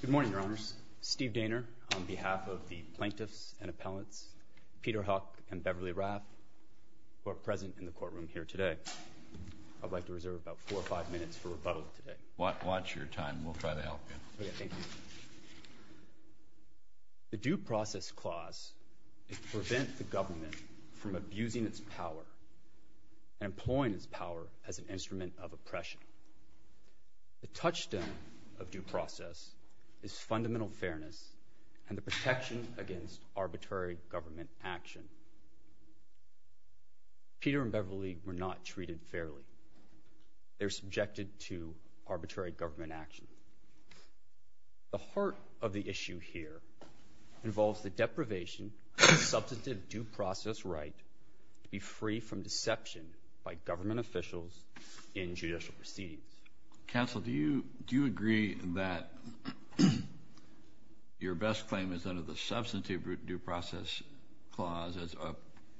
Good morning, Your Honors. Steve Daynor on behalf of the Plaintiffs and Appellants, Peter Huk and Beverly Raff, who are present in the courtroom here today. I'd like to reserve about four or five minutes for rebuttal today. Watch your time. We'll try to help you. The Due Process Clause prevents the government from abusing its power and employing its power as an instrument of oppression. The touchstone of due process is fundamental fairness and the protection against arbitrary government action. Peter and Beverly were not treated fairly. They were subjected to arbitrary government action. The heart of the issue here involves the deprivation of substantive due process right to be free from deception by government officials in judicial proceedings. Counsel, do you agree that your best claim is under the substantive due process clause as a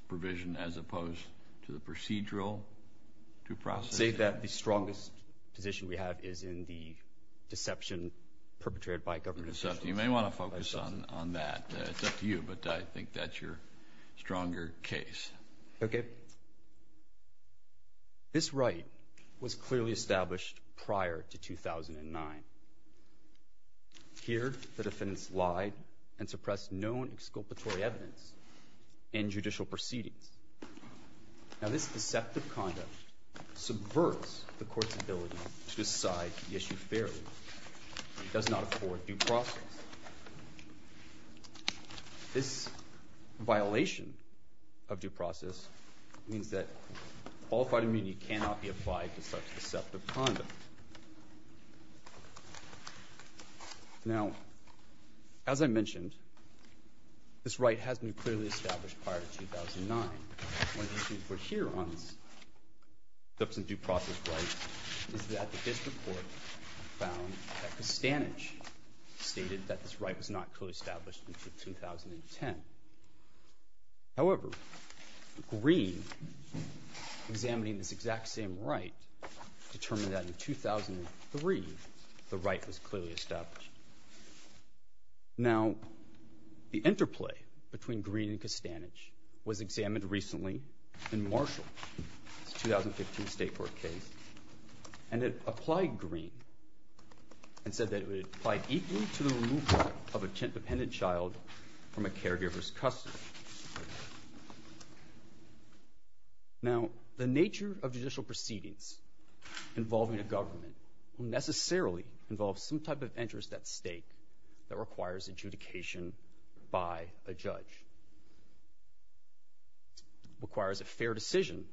provision as opposed to the procedural due process? Say that the strongest position we have is in the deception perpetrated by government officials. You may want to focus on that. It's up to you, but I think that's your stronger case. Okay. This right was clearly established prior to 2009. Here, the defendants lied and suppressed known exculpatory evidence in judicial proceedings. Now, this deceptive conduct subverts the court's ability to decide the issue fairly. It does not afford due process. This violation of due process means that qualified immunity cannot be applied to such deceptive conduct. Now, as I mentioned, this right has been clearly established prior to 2009. One of the issues I'd like to highlight is that the district court found that Costanich stated that this right was not clearly established until 2010. However, Green, examining this exact same right, determined that in 2003 the right was clearly established. Now, the interplay between and it applied Green and said that it would apply equally to the removal of a dependent child from a caregiver's custody. Now, the nature of judicial proceedings involving a government will necessarily involve some type of interest at stake that requires adjudication by a judge. It requires a fair decision.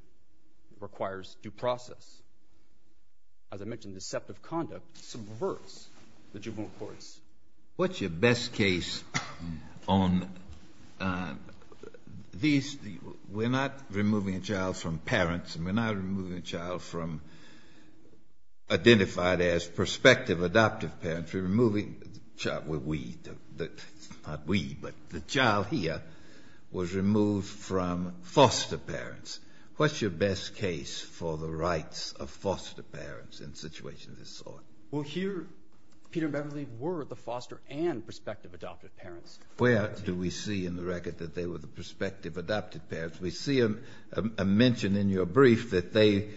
It requires due process. It requires a fair decision that, as I mentioned, deceptive conduct subverts the juvenile courts. What's your best case on these? We're not removing a child from parents. We're not removing a child from identified as prospective adoptive parents. We're removing the child, well, we, not we, but the child here was removed from foster parents. What's your best case for the rights of foster parents in situations of this sort? Well, here, Peter and Beverly were the foster and prospective adoptive parents. Where do we see in the record that they were the prospective adoptive parents? We see a mention in your brief that they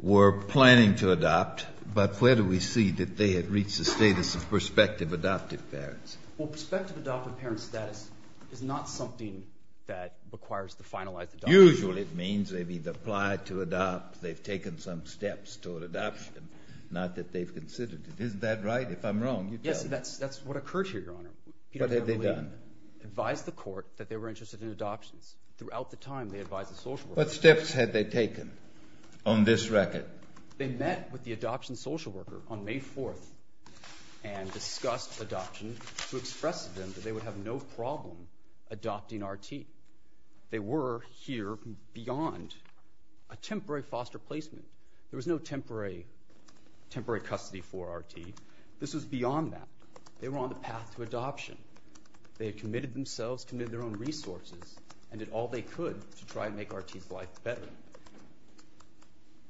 were planning to adopt, but where do we see that they had reached the status of prospective adoptive parents? Well, prospective adoptive parent status is not something that requires the finalized adoption. Usually it means they've either applied to adopt, they've taken some steps toward adoption, not that they've considered it. Isn't that right? If I'm wrong, you tell me. Yes, that's what occurred here, Your Honor. What had they done? Advise the court that they were interested in adoptions. Throughout the time, they advised the social worker. What steps had they taken on this record? They met with the adoption social worker on May 4th and discussed adoption to express to them that they would have no problem adopting RT. They were here beyond a temporary foster placement. There was no temporary custody for RT. This was beyond that. They were on the path to adoption. They had committed themselves, committed their own resources, and did all they could to try and make RT's life better.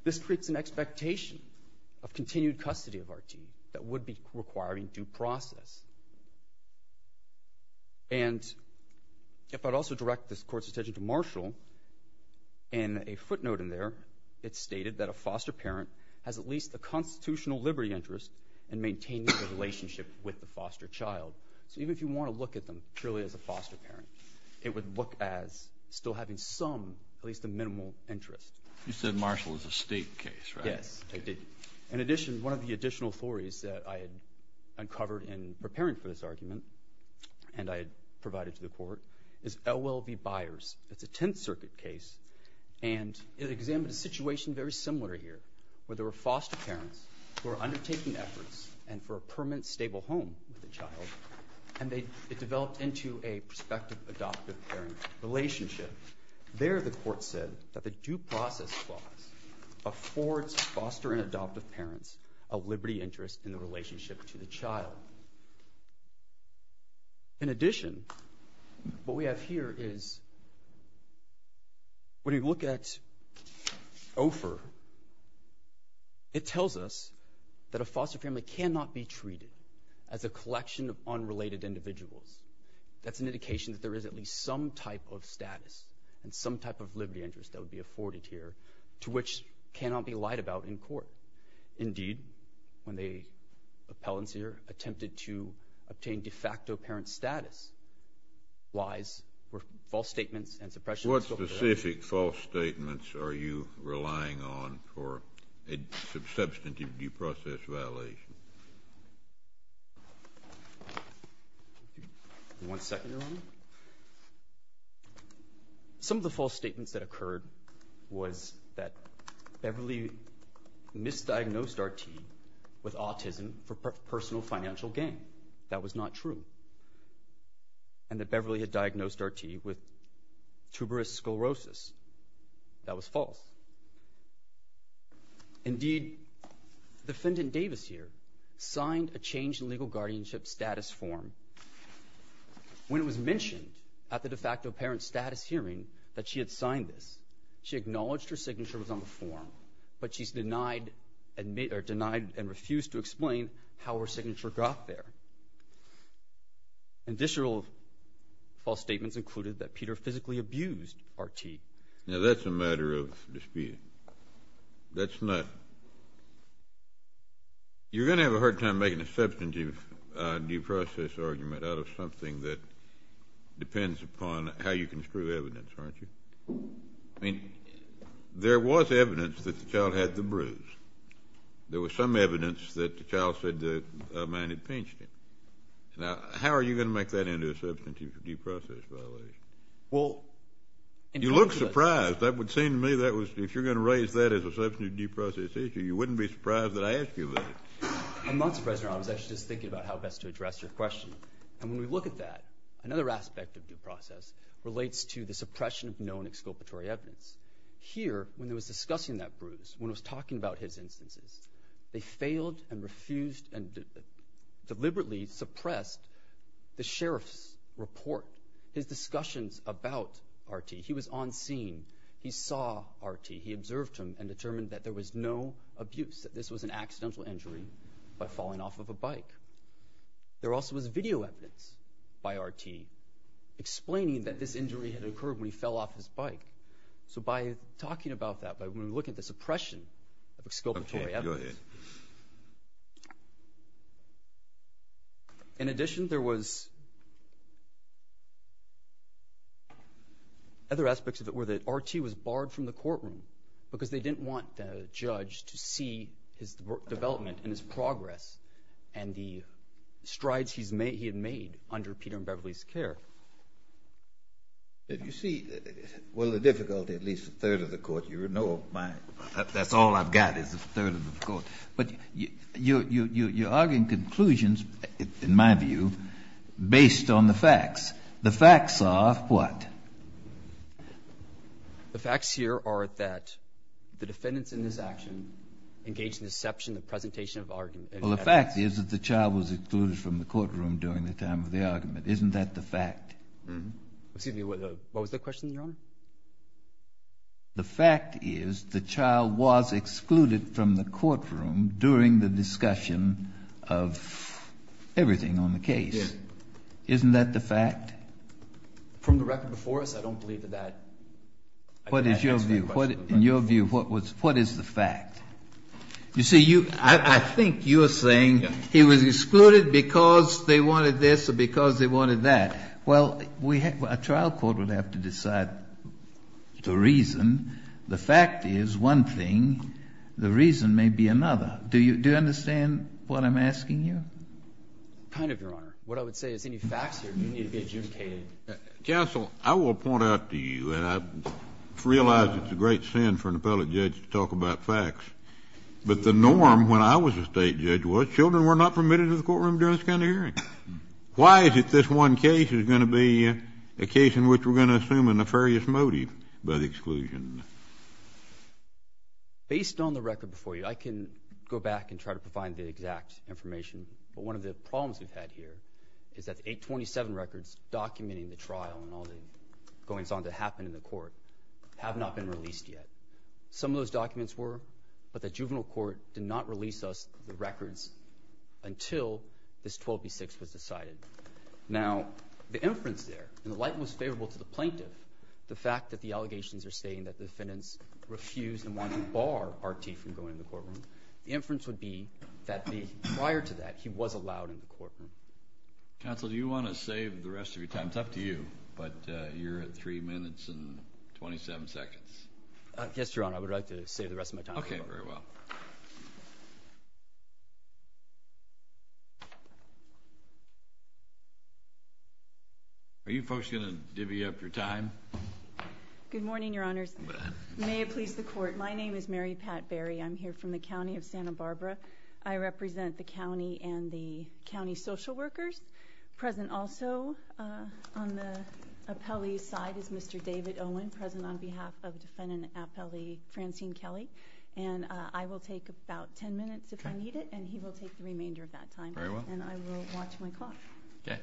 This creates an expectation of continued custody of RT that would be requiring due process. And if I'd also direct this Court's attention to Marshall, in a footnote in there, it stated that a foster parent has at least a constitutional liberty interest in maintaining a relationship with the foster child. So even if you want to look at them purely as a foster parent, it would look as still having some, at least a minimal, interest. You said Marshall is a state case, right? Yes, I did. In addition, one of the additional theories that I had uncovered in preparing for this argument, and I had provided to the Court, is OLB Byers. It's a Tenth Circuit case, and it examined a situation very similar here, where there were foster parents who were undertaking efforts and for a permanent stable home with a child, and it developed into a prospective adoptive parent relationship. There, the Court said, that the due process clause affords foster and adoptive parents a liberty interest in the relationship to the child. In addition, what we have here is, when we look at OFER, it tells us that a foster family cannot be treated as a collection of unrelated individuals. That's an indication that there is at least some type of status and some type of liberty interest that would be afforded here, to which cannot be lied about in court. Indeed, when the appellants here attempted to obtain de facto parent status, lies were false statements and suppression of social directives. What specific false statements are you relying on for a substantive due process violation? One second, Your Honor. Some of the false statements that occurred was that Beverly misdiagnosed Artie with autism for personal financial gain. That was not true. And that Beverly had diagnosed Artie with tuberous sclerosis. That was false. Indeed, the defendant in Davis here signed a change in legal guardianship status form. When it was mentioned at the de facto parent status hearing that she had signed this, she acknowledged her signature was on the form, but she's denied and refused to explain how her signature got there. And this rule of false statements included that Peter physically abused Artie. Now, that's a matter of dispute. That's not. You're going to have a hard time making a substantive due process argument out of something that depends upon how you construe evidence, aren't you? I mean, there was evidence that the child had the bruise. There was some evidence that the child said the man had pinched him. Now, how are you going to make that into a substantive due process violation? Well, you look surprised. That would seem to me that if you're going to raise that as a substantive due process issue, you wouldn't be surprised that I ask you that. I'm not surprised, Your Honor. I was actually just thinking about how best to address your question. And when we look at that, another aspect of due process relates to the suppression of known exculpatory evidence. Here, when it was discussing that bruise, when it was talking about his instances, they failed and refused and deliberately suppressed the sheriff's report, his discussions about R.T. He was on scene. He saw R.T. He observed him and determined that there was no abuse, that this was an accidental injury by falling off of a bike. There also was video evidence by R.T. explaining that this injury had occurred when he fell off his bike. So by talking about that, by when we look at the suppression of Other aspects of it were that R.T. was barred from the courtroom because they didn't want the judge to see his development and his progress and the strides he had made under Peter and Beverly's care. You see, well, the difficulty, at least a third of the court, you know, that's all I've got is a third of the court. But you're arguing conclusions, in my view, based on the facts. The facts are what? The facts here are that the defendants in this action engaged in deception in the presentation of argument. Well, the fact is that the child was excluded from the courtroom during the time of the argument. Isn't that the fact? Excuse me. What was the question, Your Honor? The fact is the child was excluded from the courtroom during the discussion of everything on the case. Yes. Isn't that the fact? From the record before us, I don't believe that that answers the question. What is your view? In your view, what is the fact? You see, I think you're saying he was excluded because they wanted this or because they wanted that. Well, a trial court would have to decide the reason. The fact is, one thing, the reason may be another. Do you understand what I'm asking you? Kind of, Your Honor. What I would say is any facts here do need to be adjudicated. Counsel, I will point out to you, and I realize it's a great sin for an appellate judge to talk about facts, but the norm when I was a state judge was children were not permitted into the courtroom during this kind of hearing. Why is it this one case is going to be a case in which we're going to assume a nefarious motive by the exclusion? Based on the record before you, I can go back and try to find the exact information but one of the problems we've had here is that the 827 records documenting the trial and all the goings-on that happened in the court have not been released yet. Some of those documents were, but the juvenile court did not release us the records until this 12b-6 was decided. Now, the inference there, and the light was favorable to the plaintiff, the fact that the allegations are stating that the defendants refused and wanted to The inference would be that prior to that he was allowed in the courtroom. Counsel, do you want to save the rest of your time? It's up to you, but you're at 3 minutes and 27 seconds. Yes, Your Honor, I would like to save the rest of my time. Okay, very well. Are you folks going to divvy up your time? Good morning, Your Honors. May it please the Court, my name is Mary Pat Berry. I'm here from the county of Santa Barbara. I represent the county and the county social workers. Present also on the appellee's side is Mr. David Owen, present on behalf of defendant appellee Francine Kelly, and I will take about 10 minutes if I need it, and he will take the remainder of that time. Very well. And I will watch my clock. Okay.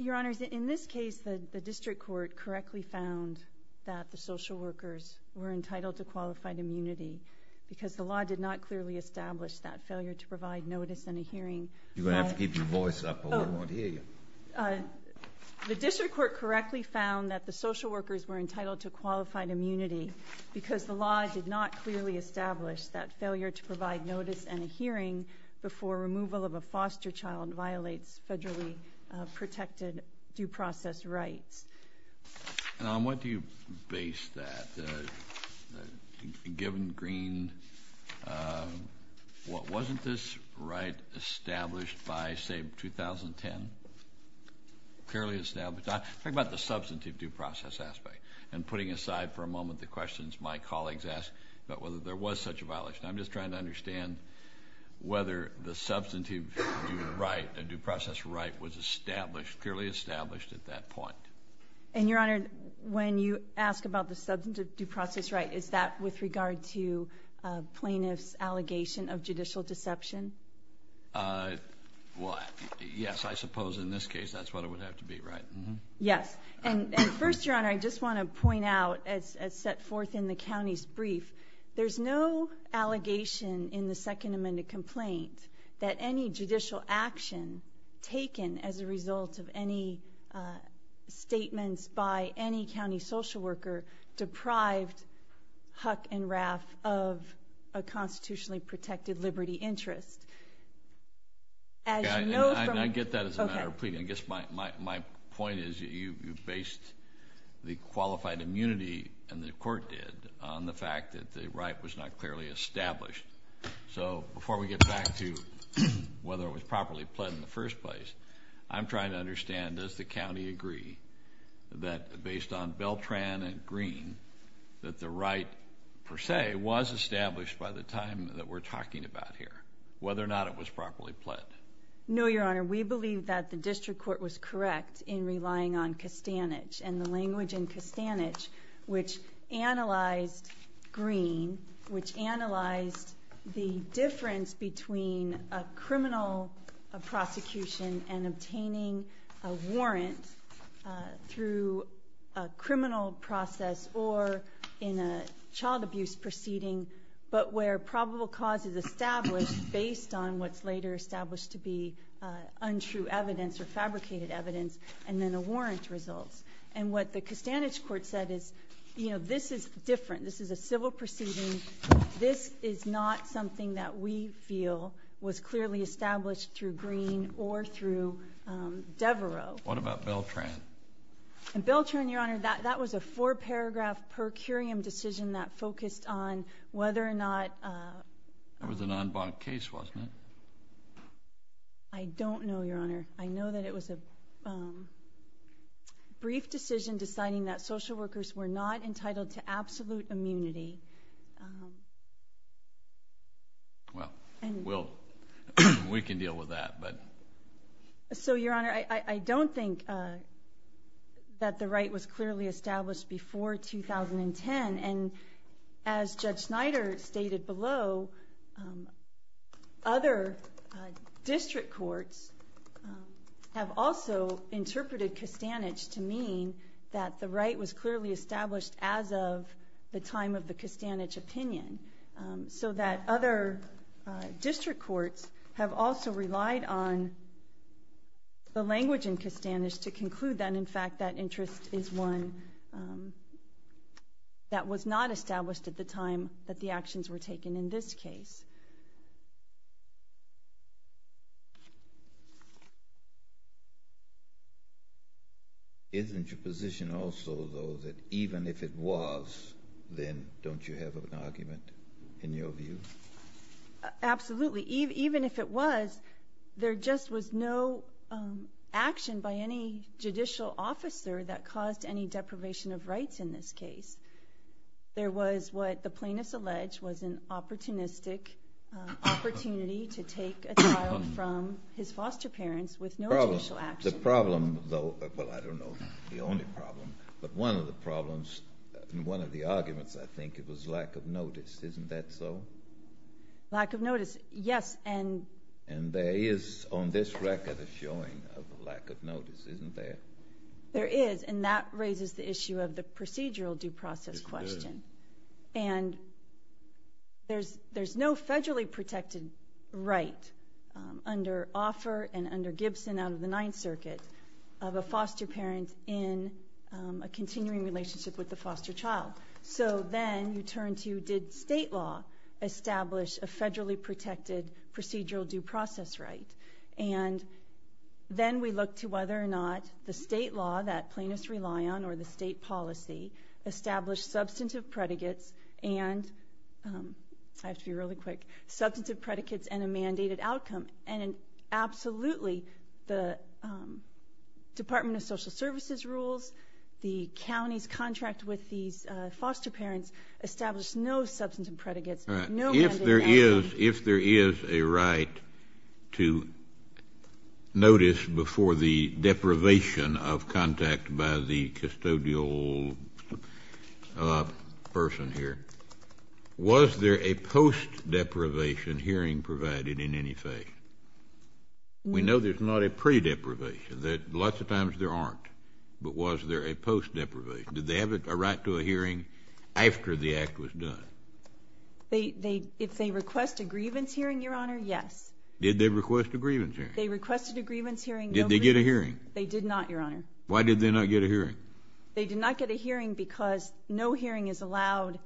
Your Honors, in this case the district court correctly found that the social workers were entitled to qualified immunity because the law did not clearly establish that failure to provide notice and a hearing. You're going to have to keep your voice up or we won't hear you. The district court correctly found that the social workers were entitled to qualified immunity because the law did not clearly establish that failure to provide notice and a hearing before removal of a foster child violates federally protected due process rights. And on what do you base that? Given green, wasn't this right established by, say, 2010? Clearly established. I'm talking about the substantive due process aspect, and putting aside for a moment the questions my colleagues ask about whether there was such a violation. I'm just trying to understand whether the substantive due process right was established, clearly established at that point. And, Your Honor, when you ask about the substantive due process right, is that with regard to plaintiff's allegation of judicial deception? Well, yes, I suppose in this case that's what it would have to be, right? Yes. And first, Your Honor, I just want to point out, as set forth in the county's brief, there's no allegation in the second amended complaint that any judicial action taken as a result of any statements by any county social worker deprived Huck and Raff of a constitutionally protected liberty interest. As you know from the- Okay, I get that as a matter of pleading. I guess my point is that you based the qualified immunity, and the court did, on the fact that the right was not clearly established. So before we get back to whether it was properly pled in the first place, I'm trying to understand, does the county agree that based on Beltran and Green, that the right, per se, was established by the time that we're talking about here, whether or not it was properly pled? No, Your Honor, we believe that the district court was correct in relying on Castanets and the language in Castanets, which analyzed Green, which analyzed the difference between a criminal prosecution and obtaining a warrant through a criminal process or in a child abuse proceeding, but where probable cause is established based on what's later established to be untrue evidence or fabricated evidence, and then a warrant results. And what the Castanets court said is, you know, this is different. This is a civil proceeding. This is not something that we feel was clearly established through Green or through Devereux. What about Beltran? Beltran, Your Honor, that was a four-paragraph per curiam decision that focused on whether or not That was an en banc case, wasn't it? I don't know, Your Honor. I know that it was a brief decision deciding that social workers were not entitled to absolute immunity. Well, we can deal with that. So, Your Honor, I don't think that the right was clearly established before 2010, and as Judge Snyder stated below, other district courts have also interpreted Castanets to mean that the right was clearly established as of the time of the Castanets opinion, so that other district courts have also relied on the language in Castanets to conclude that, in fact, that interest is one that was not established at the time that the actions were taken in this case. Isn't your position also, though, that even if it was, then don't you have an argument in your view? Absolutely. Even if it was, there just was no action by any judicial officer that caused any deprivation of rights in this case. There was what the plaintiff alleged was an opportunistic opportunity to take a child from his foster parents with no judicial action. The problem, though, well, I don't know the only problem, but one of the problems, one of the arguments, I think, it was lack of notice. Isn't that so? Lack of notice, yes. And there is, on this record, a showing of lack of notice. Isn't there? There is, and that raises the issue of the procedural due process question. And there's no federally protected right under Offer and under Gibson out of the Ninth Circuit of a foster parent in a continuing relationship with the foster child. So then you turn to did state law establish a federally protected procedural due process right? And then we look to whether or not the state law that plaintiffs rely on or the state policy establish substantive predicates and, I have to be really quick, substantive predicates and a mandated outcome. And absolutely the Department of Social Services rules, the county's contract with these foster parents, If there is a right to notice before the deprivation of contact by the custodial person here, was there a post-deprivation hearing provided in any fashion? We know there's not a pre-deprivation. Lots of times there aren't. But was there a post-deprivation? Did they have a right to a hearing after the act was done? If they request a grievance hearing, Your Honor, yes. Did they request a grievance hearing? They requested a grievance hearing. Did they get a hearing? They did not, Your Honor. Why did they not get a hearing? They did not get a hearing because no hearing is allowed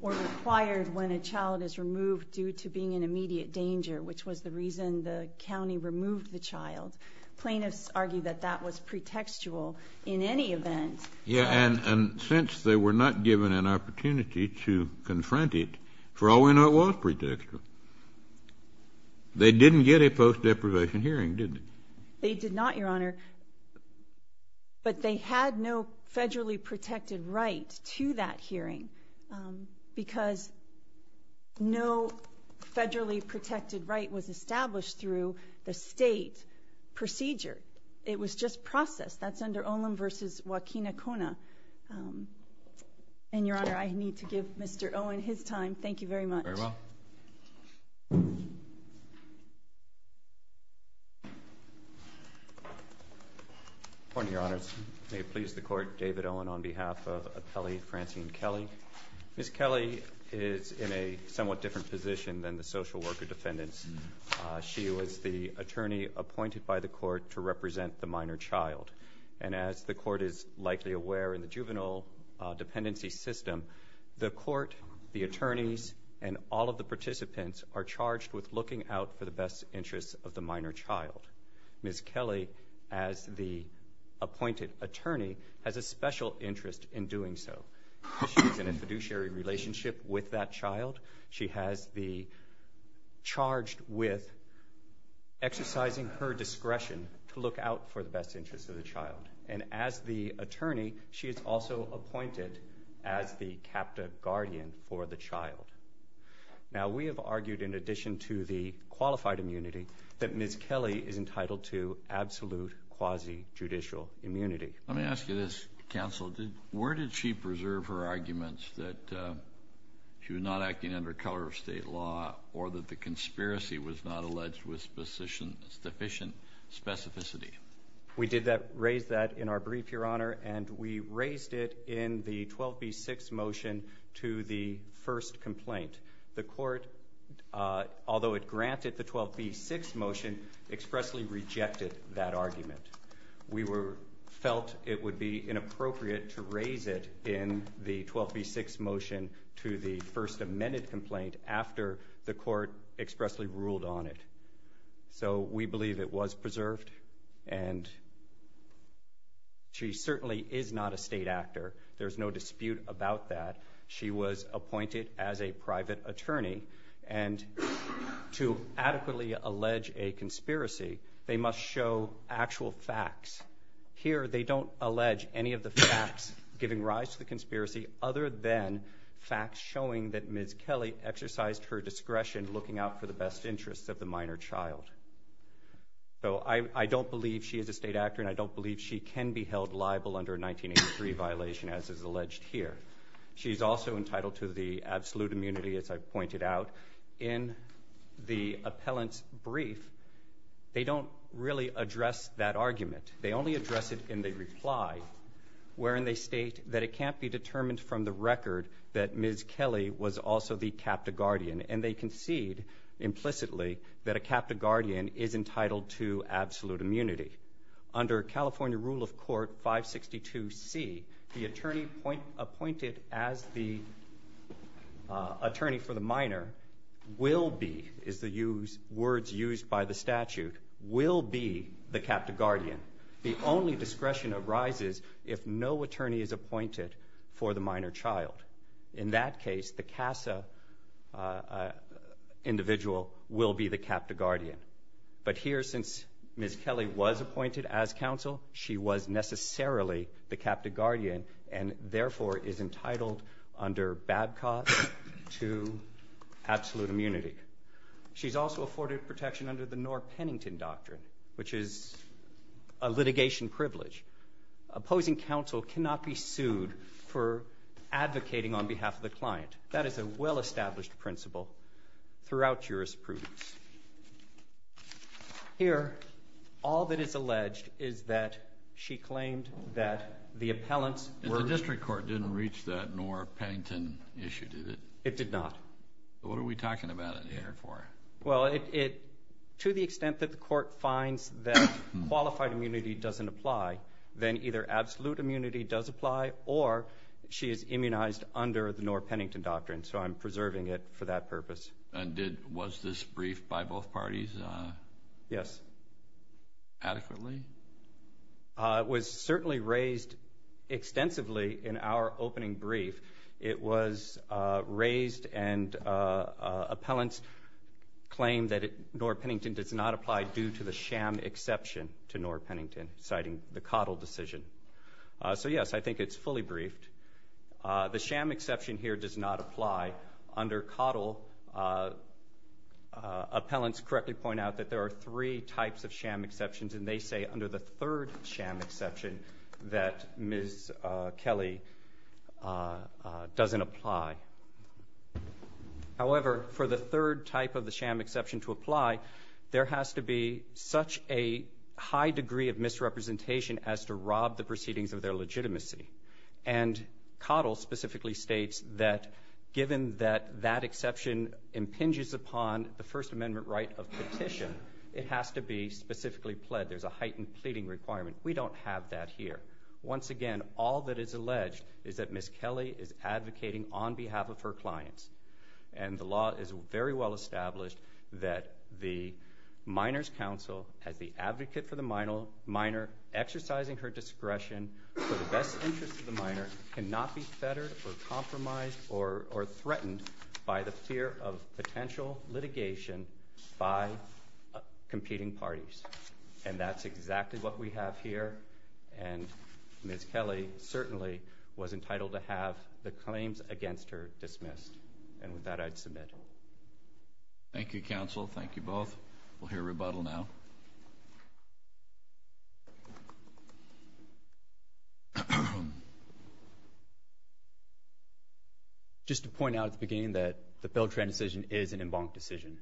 or required when a child is removed due to being in immediate danger, which was the reason the county removed the child. Plaintiffs argue that that was pretextual in any event. Yes, and since they were not given an opportunity to confront it, for all we know it was pretextual. They didn't get a post-deprivation hearing, did they? They did not, Your Honor, but they had no federally protected right to that hearing because no federally protected right was established through the state procedure. It was just processed. That's under Olin v. Joaquin Acuna. And, Your Honor, I need to give Mr. Olin his time. Thank you very much. Very well. Good morning, Your Honors. May it please the Court, David Olin on behalf of Appellee Francine Kelly. Ms. Kelly is in a somewhat different position than the social worker defendants. She was the attorney appointed by the Court to represent the minor child. And as the Court is likely aware in the juvenile dependency system, the Court, the attorneys, and all of the participants are charged with looking out for the best interests of the minor child. Ms. Kelly, as the appointed attorney, has a special interest in doing so. She's in a fiduciary relationship with that child. She has the charge with exercising her discretion to look out for the best interests of the child. And as the attorney, she is also appointed as the CAPTA guardian for the child. Now, we have argued, in addition to the qualified immunity, that Ms. Kelly is entitled to absolute quasi-judicial immunity. Let me ask you this, Counsel. Where did she preserve her arguments that she was not acting under color of state law or that the conspiracy was not alleged with sufficient specificity? We did raise that in our brief, Your Honor, and we raised it in the 12b-6 motion to the first complaint. The Court, although it granted the 12b-6 motion, expressly rejected that argument. We felt it would be inappropriate to raise it in the 12b-6 motion to the first amended complaint after the Court expressly ruled on it. So we believe it was preserved, and she certainly is not a state actor. There's no dispute about that. She was appointed as a private attorney. And to adequately allege a conspiracy, they must show actual facts. Here, they don't allege any of the facts giving rise to the conspiracy other than facts showing that Ms. Kelly exercised her discretion looking out for the best interests of the minor child. So I don't believe she is a state actor, and I don't believe she can be held liable under a 1983 violation as is alleged here. She is also entitled to the absolute immunity, as I pointed out. In the appellant's brief, they don't really address that argument. They only address it in the reply wherein they state that it can't be determined from the record that Ms. Kelly was also the captive guardian, and they concede implicitly that a captive guardian is entitled to absolute immunity. Under California rule of court 562C, the attorney appointed as the attorney for the minor will be, as the words used by the statute, will be the captive guardian. The only discretion arises if no attorney is appointed for the minor child. In that case, the CASA individual will be the captive guardian. But here, since Ms. Kelly was appointed as counsel, she was necessarily the captive guardian and therefore is entitled under Babcock to absolute immunity. She's also afforded protection under the Knorr-Pennington Doctrine, which is a litigation privilege. Opposing counsel cannot be sued for advocating on behalf of the client. That is a well-established principle throughout jurisprudence. Here, all that is alleged is that she claimed that the appellants were— The district court didn't reach that Knorr-Pennington issue, did it? It did not. What are we talking about in here for? Well, to the extent that the court finds that qualified immunity doesn't apply, then either absolute immunity does apply or she is immunized under the Knorr-Pennington Doctrine. So I'm preserving it for that purpose. And was this brief by both parties adequately? It was certainly raised extensively in our opening brief. It was raised and appellants claimed that Knorr-Pennington does not apply due to the sham exception to Knorr-Pennington, citing the Cottle decision. So, yes, I think it's fully briefed. The sham exception here does not apply. Under Cottle, appellants correctly point out that there are three types of sham exceptions, and they say under the third sham exception that Ms. Kelly doesn't apply. However, for the third type of the sham exception to apply, there has to be such a high degree of misrepresentation as to rob the proceedings of their legitimacy. And Cottle specifically states that given that that exception impinges upon the First Amendment right of petition, it has to be specifically pled. There's a heightened pleading requirement. We don't have that here. Once again, all that is alleged is that Ms. Kelly is advocating on behalf of her clients. And the law is very well established that the Miners' Council, as the advocate for the miner, exercising her discretion for the best interest of the miner, cannot be fettered or compromised or threatened by the fear of potential litigation by competing parties. And that's exactly what we have here. And Ms. Kelly certainly was entitled to have the claims against her dismissed. And with that, I'd submit. Thank you, counsel. Thank you both. We'll hear rebuttal now. Just to point out at the beginning that the Beltran decision is an embanked decision.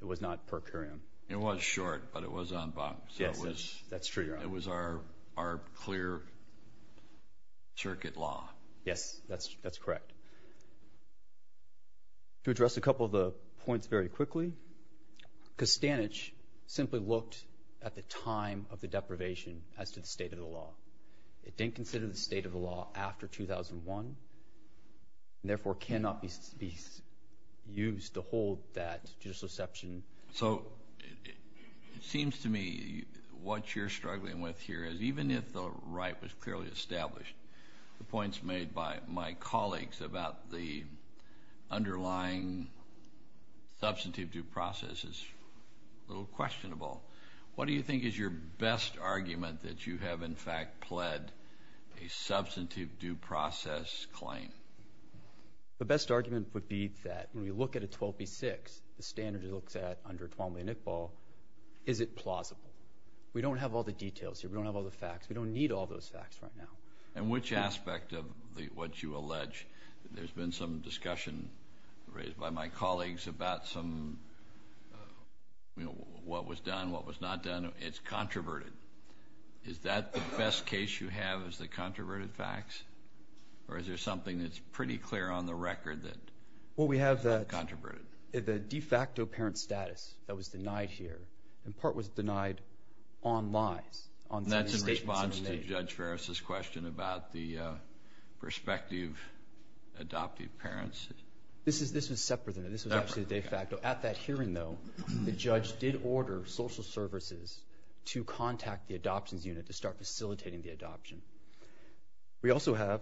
It was not per curiam. It was short, but it was embanked. Yes, that's true. It was our clear circuit law. Yes, that's correct. To address a couple of the points very quickly, Kostanich simply looked at the time of the deprivation as to the state of the law. It didn't consider the state of the law after 2001, and therefore cannot be used to hold that judicial exception. So it seems to me what you're struggling with here is even if the right was clearly established, the points made by my colleagues about the underlying substantive due process is a little questionable. What do you think is your best argument that you have, in fact, pled a substantive due process claim? The best argument would be that when we look at a 12B6, the standard it looks at under Twombly and Iqbal, is it plausible? We don't have all the details here. We don't have all the facts. We don't need all those facts right now. And which aspect of what you allege? There's been some discussion raised by my colleagues about some, you know, what was done, what was not done. It's controverted. Is that the best case you have, is the controverted facts? Or is there something that's pretty clear on the record that's controverted? Well, we have the de facto parent status that was denied here, in part was denied on lies. And that's in response to Judge Ferris' question about the prospective adoptive parents? This was separate. This was actually de facto. At that hearing, though, the judge did order social services to contact the adoptions unit to start facilitating the adoption. We also have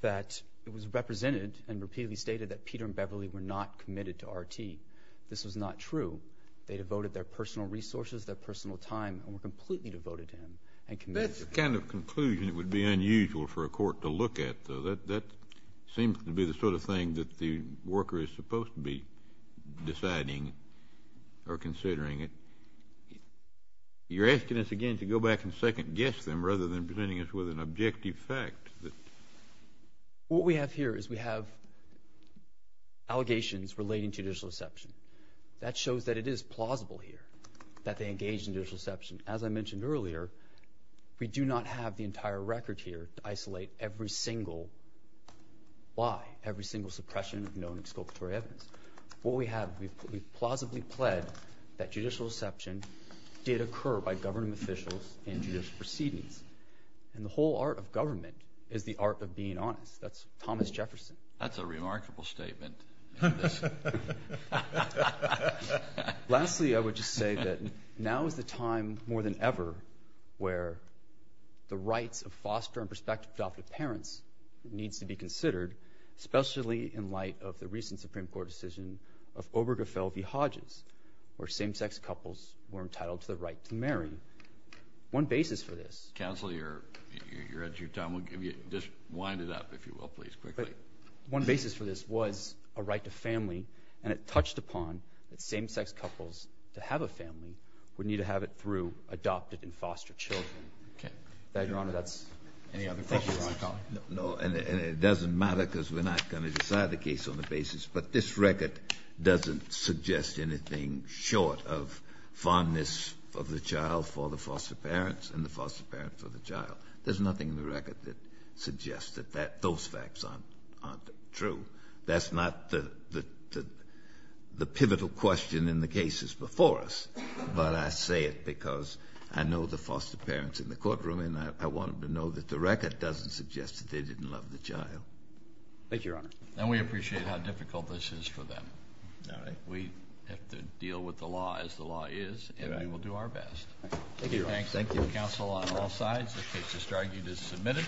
that it was represented and repeatedly stated that Peter and Beverly were not committed to RT. This was not true. They devoted their personal resources, their personal time, and were completely devoted to him and committed to him. That's the kind of conclusion that would be unusual for a court to look at, though. That seems to be the sort of thing that the worker is supposed to be deciding or considering. You're asking us, again, to go back and second-guess them rather than presenting us with an objective fact. What we have here is we have allegations relating to judicial deception. That shows that it is plausible here that they engaged in judicial deception. As I mentioned earlier, we do not have the entire record here to isolate every single lie, every single suppression of known exculpatory evidence. What we have, we've plausibly pled that judicial deception did occur by government officials in judicial proceedings. And the whole art of government is the art of being honest. That's Thomas Jefferson. That's a remarkable statement. Lastly, I would just say that now is the time, more than ever, where the rights of foster and prospective adoptive parents needs to be considered, especially in light of the recent Supreme Court decision of Obergefell v. Hodges, where same-sex couples were entitled to the right to marry. One basis for this. Counsel, you're at your time. Just wind it up, if you will, please, quickly. One basis for this was a right to family, and it touched upon that same-sex couples to have a family would need to have it through adopted and foster children. Okay. Your Honor, that's it. Any other questions? No, and it doesn't matter because we're not going to decide the case on the basis. But this record doesn't suggest anything short of fondness of the child for the foster parents and the foster parents for the child. There's nothing in the record that suggests that those facts aren't true. That's not the pivotal question in the cases before us, but I say it because I know the foster parents in the courtroom, and I want them to know that the record doesn't suggest that they didn't love the child. Thank you, Your Honor. And we appreciate how difficult this is for them. All right. We have to deal with the law as the law is, and we will do our best. Thank you, Your Honor. Thank you. Okay. Thank you. Thank you. Thank you.